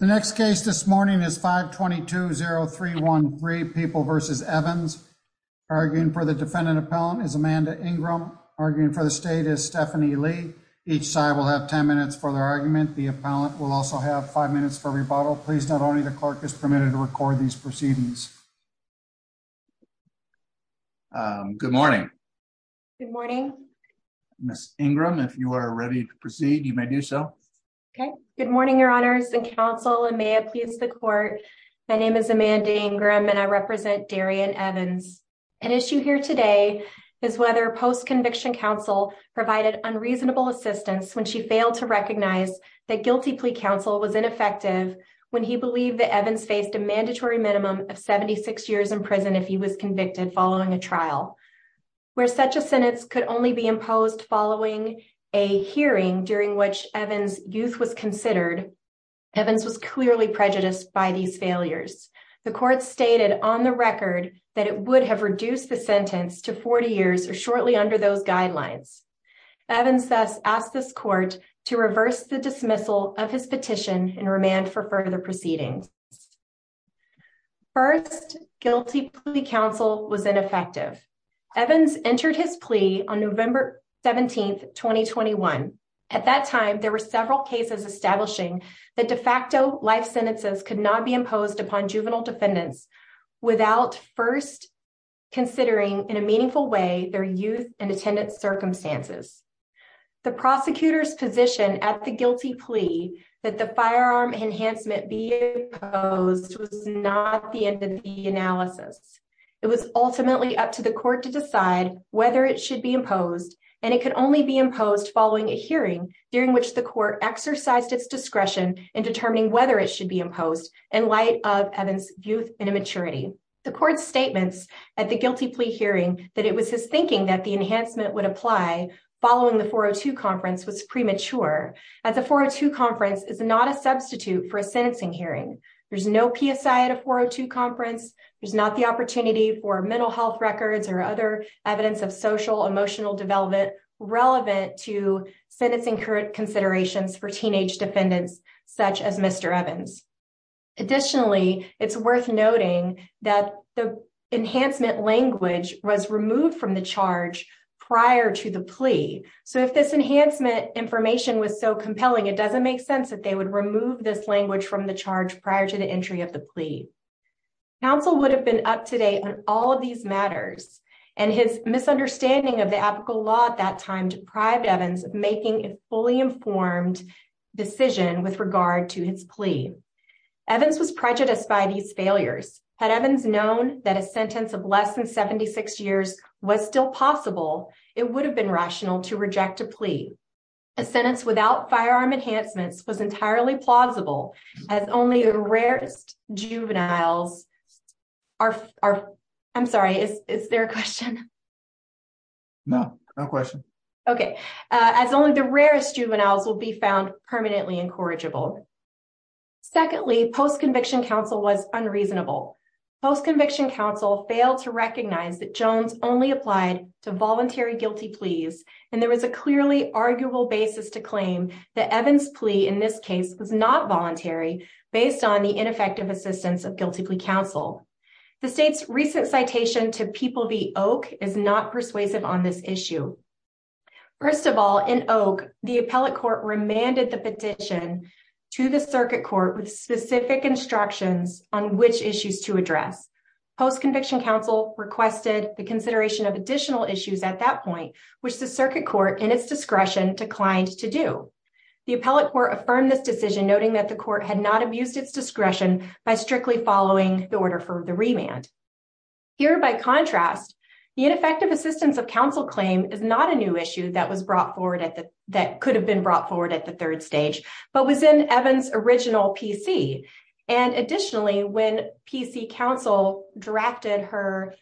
The next case this morning is 522-0313, People v. Evans. Arguing for the defendant appellant is Amanda Ingram. Arguing for the state is Stephanie Lee. Each side will have 10 minutes for their argument. The appellant will also have 5 minutes for rebuttal. Please note only the clerk is permitted to record these proceedings. Good morning. Good morning. Ms. Ingram, if you are ready to proceed, you may do so. Good morning, your honors and counsel, and may it please the court. My name is Amanda Ingram and I represent Darian Evans. An issue here today is whether post-conviction counsel provided unreasonable assistance when she failed to recognize that guilty plea counsel was ineffective when he believed that Evans faced a mandatory minimum of 76 years in prison if he was convicted following a trial, where such a sentence could only be imposed following a hearing during which Evans' youth was considered. Evans was clearly prejudiced by these failures. The court stated on the record that it would have reduced the sentence to 40 years or shortly under those guidelines. Evans thus asked this court to reverse the dismissal of his petition and remand for further proceedings. First, guilty plea counsel was ineffective. Evans entered his plea on November 17, 2021. At that time, there were several cases establishing that de facto life sentences could not be imposed upon juvenile defendants without first considering in a meaningful way their youth and attendance circumstances. The prosecutor's position at the guilty plea that the firearm enhancement be imposed was not the end of the analysis. It was ultimately up to the court to decide whether it should be imposed, and it could only be imposed following a hearing during which the court exercised its discretion in determining whether it should be imposed in light of Evans' youth and immaturity. The court's statements at the guilty plea hearing that it was his thinking that the enhancement would apply following the 402 conference was premature. At the 402 conference, it's not a substitute for a sentencing hearing. There's no PSI at a 402 conference. There's not the opportunity for mental health records or other evidence of social emotional development relevant to sentencing current considerations for teenage defendants such as Mr. Evans. Additionally, it's worth noting that the enhancement language was removed from the charge prior to the plea. So if this enhancement information was so compelling, it doesn't make sense that they would remove this language from the charge prior to the entry of the plea. Counsel would have been up to date on all of these matters, and his misunderstanding of the apical law at that time deprived Evans of making a fully informed decision with regard to his plea. Evans was prejudiced by these failures. Had Evans known that a sentence of less than 76 years was still possible, it would have been rational to reject a plea. A sentence without firearm enhancements was entirely plausible as only the rarest juveniles will be found permanently incorrigible. Secondly, post-conviction counsel was unreasonable. Post-conviction counsel failed to recognize that Jones only applied to voluntary guilty pleas, and there was a clearly arguable basis to claim that Evans' plea in this case was not voluntary based on the ineffective assistance of guilty plea counsel. The state's recent citation to People v. Oak is not persuasive on this issue. First of all, in Oak, the appellate court remanded the petition to the circuit court with specific instructions on which issues to address. Post-conviction counsel requested the consideration of additional issues at that point, which the circuit court, in its discretion, declined to do. The appellate court affirmed this decision, noting that the court had not abused its discretion by strictly following the order for the remand. Here, by contrast, the ineffective assistance of counsel claim is not a new issue that could have been brought forward at the third stage, but was in Evans' original PC. And additionally, when PC counsel drafted her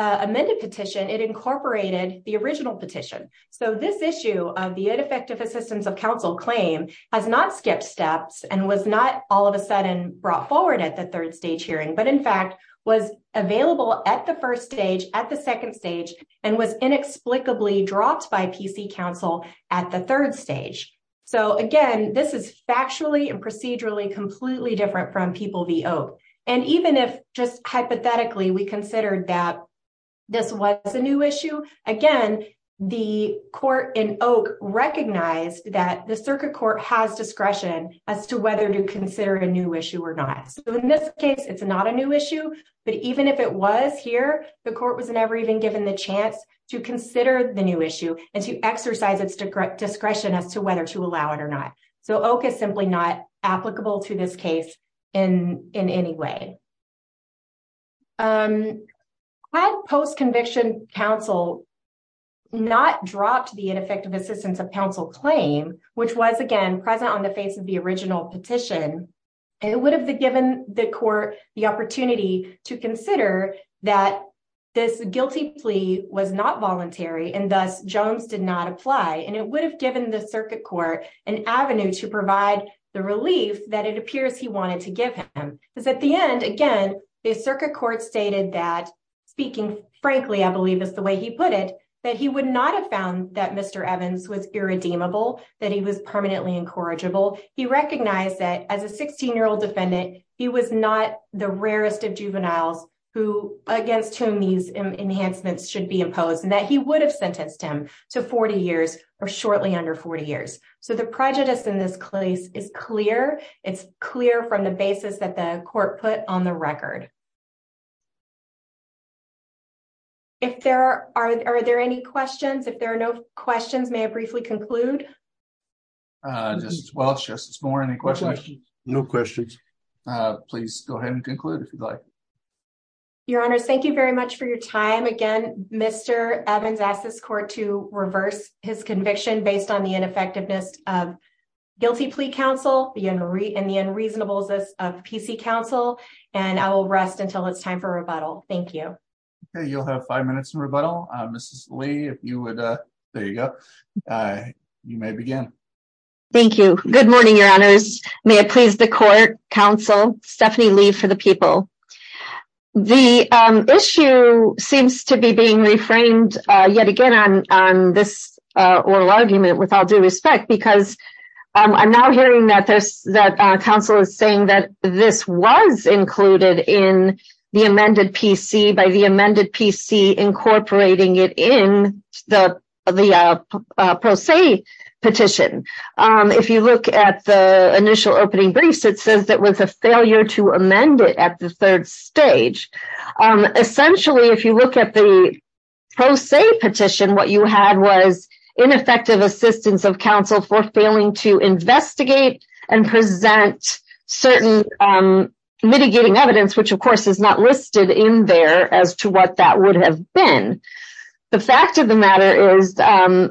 amended petition, it incorporated the original petition. So this issue of the ineffective assistance of counsel claim has not skipped steps and was not all of a sudden brought forward at the third stage hearing, but in fact, was available at the first stage, at the second stage, and was inexplicably dropped by PC counsel at the third stage. So again, this is factually and procedurally completely different from People v. Oak. And even if just hypothetically, we considered that this was a new issue, again, the court in Oak recognized that the circuit court has discretion as to whether to consider a new issue or not. So in this case, it's not a new issue, but even if it was here, the court was never even the chance to consider the new issue and to exercise its discretion as to whether to allow it or not. So Oak is simply not applicable to this case in any way. Had post-conviction counsel not dropped the ineffective assistance of counsel claim, which was, again, present on the face of the original petition, it would have given the court the was not voluntary, and thus Jones did not apply, and it would have given the circuit court an avenue to provide the relief that it appears he wanted to give him. Because at the end, again, the circuit court stated that, speaking frankly, I believe is the way he put it, that he would not have found that Mr. Evans was irredeemable, that he was permanently incorrigible. He recognized that as a 16-year-old defendant, he was not the rarest of juveniles against whom these enhancements should be imposed, and that he would have sentenced him to 40 years or shortly under 40 years. So the prejudice in this case is clear. It's clear from the basis that the court put on the record. If there are, are there any questions? If there are no questions, may I briefly conclude? Justice Welch, Justice Moore, any questions? No questions. Please go ahead and conclude if you'd like. Your Honor, thank you very much for your time. Again, Mr. Evans asked this court to reverse his conviction based on the ineffectiveness of guilty plea counsel and the unreasonableness of PC counsel, and I will rest until it's time for rebuttal. Thank you. Okay, you'll have five minutes in rebuttal. Mrs. Lee, if you would, there you go, you may begin. Thank you. Good morning, Your Honors. May it please the court, counsel, Stephanie Lee for the people. The issue seems to be being reframed yet again on this oral argument with all due respect because I'm now hearing that this, that counsel is saying that this was included in the amended PC by the amended PC incorporating it in the pro se petition. If you look at the initial opening briefs, it says that with a failure to amend it at the third stage. Essentially, if you look at the pro se petition, what you had was ineffective assistance of counsel for failing to investigate and present certain mitigating evidence, which of course is not listed in there as to what that would have been. The fact of the matter is, and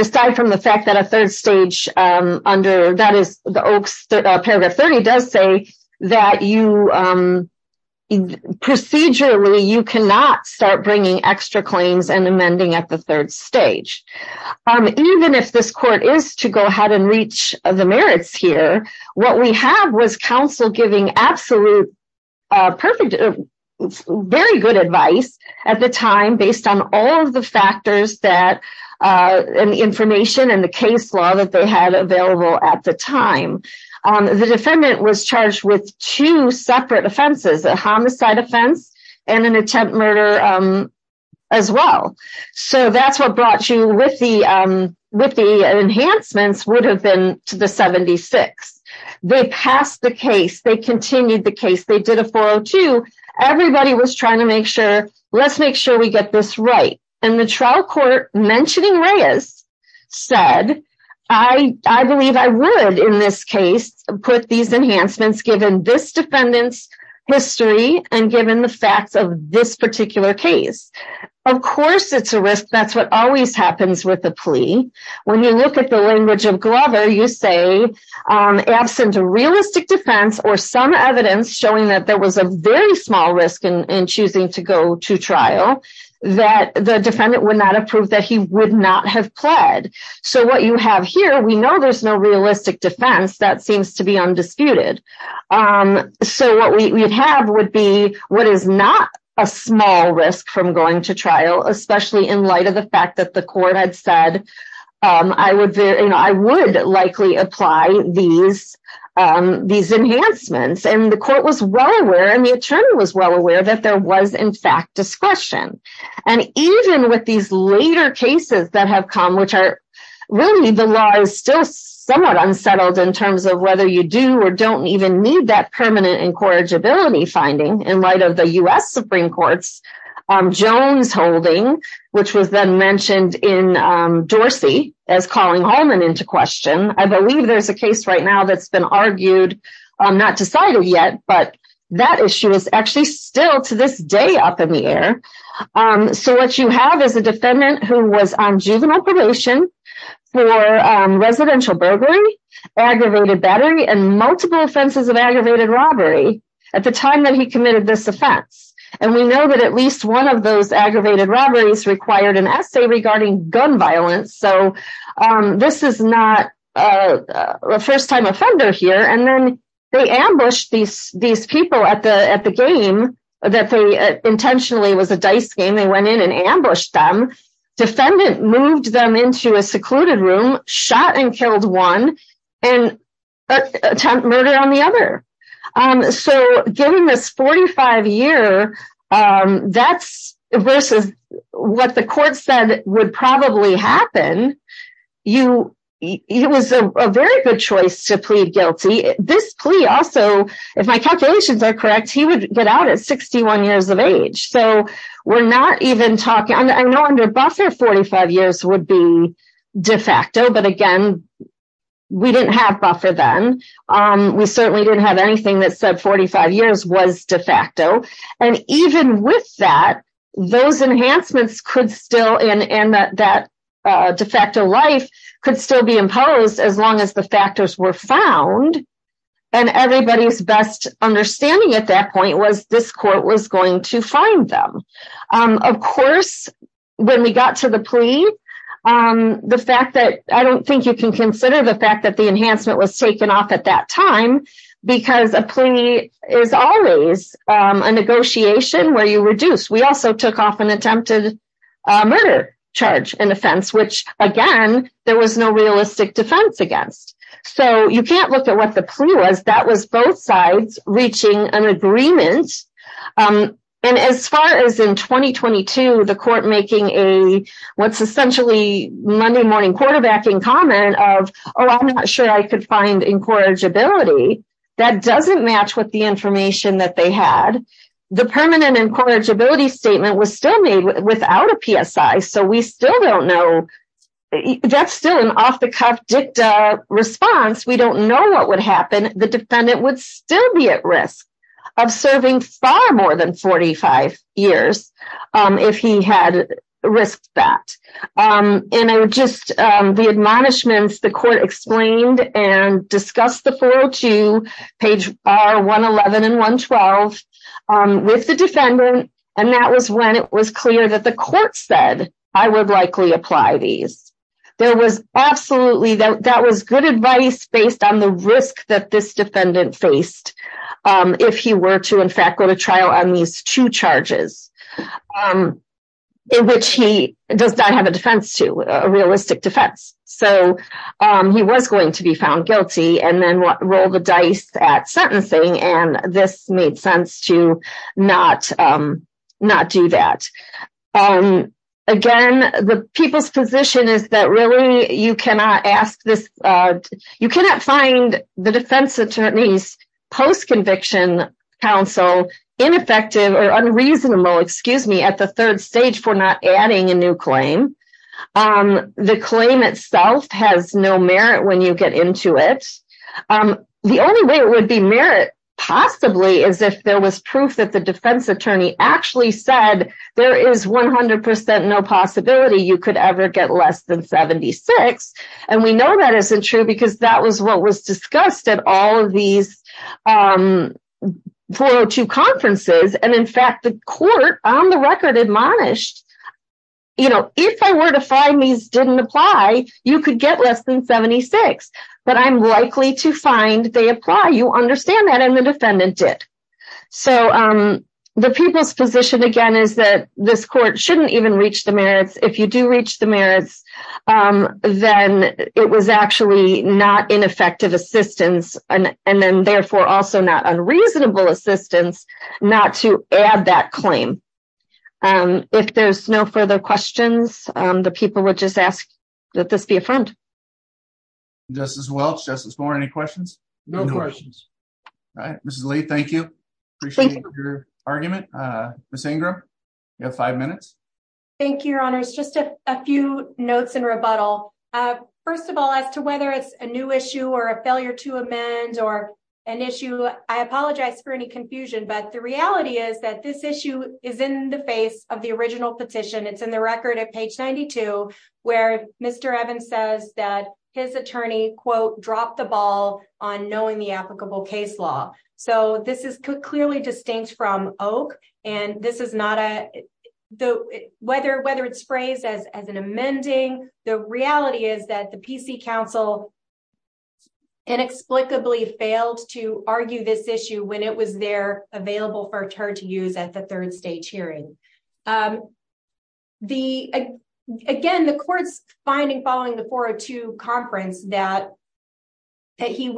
aside from the fact that a third stage under that is paragraph 30 does say that you, procedurally, you cannot start bringing extra claims and amending at the third stage. Even if this court is to go ahead and reach the merits here, what we have was counsel giving absolute, perfect, very good advice at the time based on all of the factors that and information and the case law that they had available at the time. The defendant was charged with two separate offenses, a homicide offense and an attempt murder as well. So that's what brought you with the enhancements would have been to the 76. They passed the case. They continued the case. They did a 402. Everybody was trying to make sure, let's make sure we get this right. And the trial court mentioning Reyes said, I believe I would, in this case, put these enhancements given this defendant's history and given the facts of this particular case. Of course, it's a risk. That's what always happens with the plea. When you look at the language of Glover, you say, absent a realistic defense or some evidence showing that there was a very small risk in choosing to go to trial that the defendant would not approve that he would not have pled. So what you have here, we know there's no realistic defense that seems to be undisputed. So what we have would be what is not a small risk from going to trial, especially in light of the fact that the court had said, I would, you know, I would likely apply these enhancements. And the court was well aware and the attorney was well aware that there was, in fact, discretion. And even with these later cases that have come, which are really the law is still somewhat unsettled in terms of whether you do or don't even need that permanent incorrigibility finding in light of the U.S. Supreme Court's Jones holding, which was then mentioned in Dorsey as calling Holman into question. I believe there's a case right now that's been argued, not decided yet, but that issue is actually still to this day up in the air. So what you have is a defendant who was on juvenile probation for residential burglary, aggravated battery and multiple offenses of aggravated robbery at the time that he committed this offense. And we know that at least one of those aggravated robberies required an essay regarding gun violence. So this is not a first time offender here. And then they ambushed these people at the game that they intentionally was a dice game. They went in and ambushed them. Defendant moved them into a secluded room, shot and killed one and attempted murder on the other. So given this 45 year versus what the court said would probably happen, it was a very good choice to plead guilty. This plea also, if my calculations are correct, he would get out at 61 years of age. So we're not even talking, I know under buffer, 45 years would be de facto. But again, we didn't have buffer then. We certainly didn't have anything that said 45 years was de facto. And even with that, those enhancements could still in that de facto life could still be imposed as long as the factors were found. And everybody's best understanding at that point was this court was going to find them. Of course, when we got to the plea, the fact that I don't think you can consider the fact that was taken off at that time, because a plea is always a negotiation where you reduce. We also took off an attempted murder charge and offense, which again, there was no realistic defense against. So you can't look at what the plea was. That was both sides reaching an agreement. And as far as in 2022, the court making a what's essentially Monday morning quarterback in common of, oh, I'm not sure I could find incorrigibility that doesn't match with the information that they had. The permanent incorrigibility statement was still made without a PSI. So we still don't know. That's still an off the cuff dicta response. We don't know what would happen. The defendant would still be at risk of serving far more than 45 years if he had risked that. And I would just the admonishments, the court explained and discussed the 402 page are 111 and 112 with the defendant. And that was when it was clear that the court said I would likely apply these. There was absolutely that was good advice based on the risk that this defendant faced. If he were to, in fact, go to trial on these two charges. In which he does not have a defense to a realistic defense. So he was going to be found guilty and then roll the dice at sentencing. And this made sense to not do that. Again, the people's position is that really you cannot ask this. You cannot find the defense attorney's post-conviction counsel ineffective or unreasonable, excuse me, at the third stage for not adding a new claim. The claim itself has no merit when you get into it. The only way it would be merit possibly is if there was proof that the defense attorney actually said there is 100% no possibility you could ever get less than 76. And we know that isn't true. Because that was what was discussed at all of these 402 conferences. And in fact, the court on the record admonished, you know, if I were to find these didn't apply, you could get less than 76. But I'm likely to find they apply. You understand that? And the defendant did. So the people's position, again, is that this court shouldn't even reach the merits. If you do reach the merits, then it was actually not ineffective assistance and then therefore also not unreasonable assistance not to add that claim. If there's no further questions, the people would just ask that this be affirmed. Justice Welch, Justice Moore, any questions? No questions. All right. Mrs. Lee, thank you. Appreciate your argument. Ms. Ingram, you have five minutes. Thank you, Your Honors. Just a few notes in rebuttal. First of all, as to whether it's a new issue or a failure to amend or an issue, I apologize for any confusion. But the reality is that this issue is in the face of the original petition. It's in the record at page 92, where Mr. Evans says that his attorney, quote, dropped the ball on knowing the applicable case law. So this is clearly distinct from Oak. And whether it's phrased as an amending, the reality is that the PC Council inexplicably failed to argue this issue when it was there available for her to use at the third stage hearing. Again, the court's finding following the 402 conference that he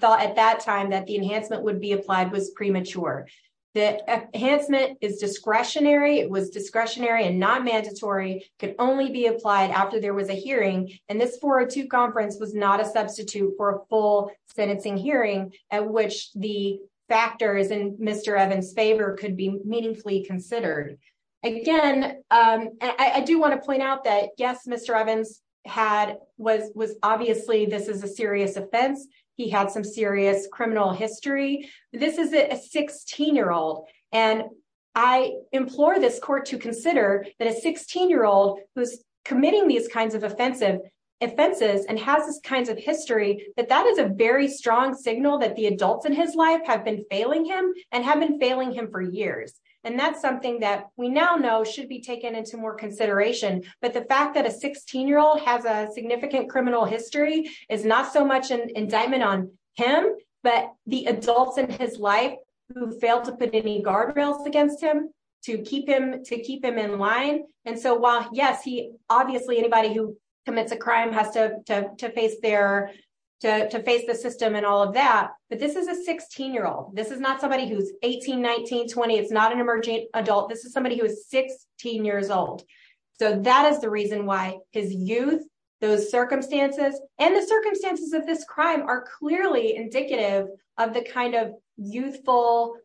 thought at that time that the enhancement would be applied was premature. The enhancement is discretionary. It was discretionary and not mandatory. It could only be applied after there was a hearing. And this 402 conference was not a substitute for a full sentencing hearing at which the factors in Mr. Evans' favor could be meaningfully considered. Again, I do want to point out that, yes, Mr. Evans had was obviously this is a serious offense. He had some serious criminal history. This is a 16-year-old. And I implore this court to consider that a 16-year-old who's committing these kinds of offenses and has these kinds of history, that that is a very strong signal that the adults in his life have been failing him and have been failing him for years. And that's something that we now know should be taken into more consideration. But the fact that a 16-year-old has a significant criminal history is not so much an indictment on him, but the adults in his life who failed to put any guardrails against him to keep him in line. And so while, yes, obviously anybody who commits a crime has to face the system and all of that, but this is a 16-year-old. This is not somebody who's 18, 19, 20. It's not an emerging adult. This is somebody who is 16 years old. So that is the reason why his youth, those circumstances, and the circumstances of this indicative of the kind of youthful,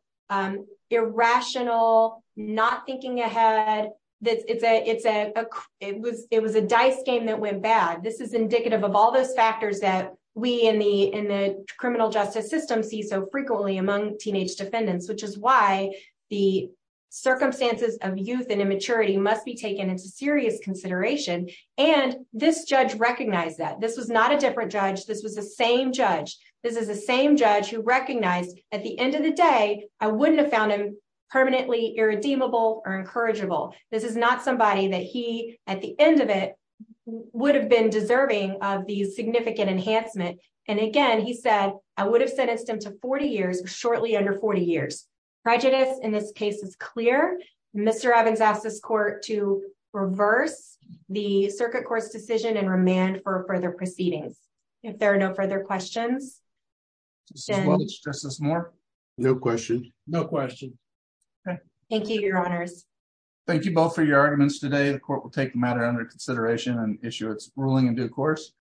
irrational, not thinking ahead. It was a dice game that went bad. This is indicative of all those factors that we in the criminal justice system see so frequently among teenage defendants, which is why the circumstances of youth and immaturity must be taken into serious consideration. And this judge recognized that. This was not a different judge. This was the same judge. This is the same judge who recognized, at the end of the day, I wouldn't have found him permanently irredeemable or incorrigible. This is not somebody that he, at the end of it, would have been deserving of the significant enhancement. And again, he said, I would have sentenced him to 40 years, shortly under 40 years. Prejudice in this case is clear. Mr. Evans asked this court to reverse the circuit court's decision and remand for further proceedings. If there are no further questions. Mr. Evans, do you want to stress this more? No question. No question. Thank you, your honors. Thank you both for your arguments today. The court will take the matter under consideration and issue its ruling in due course.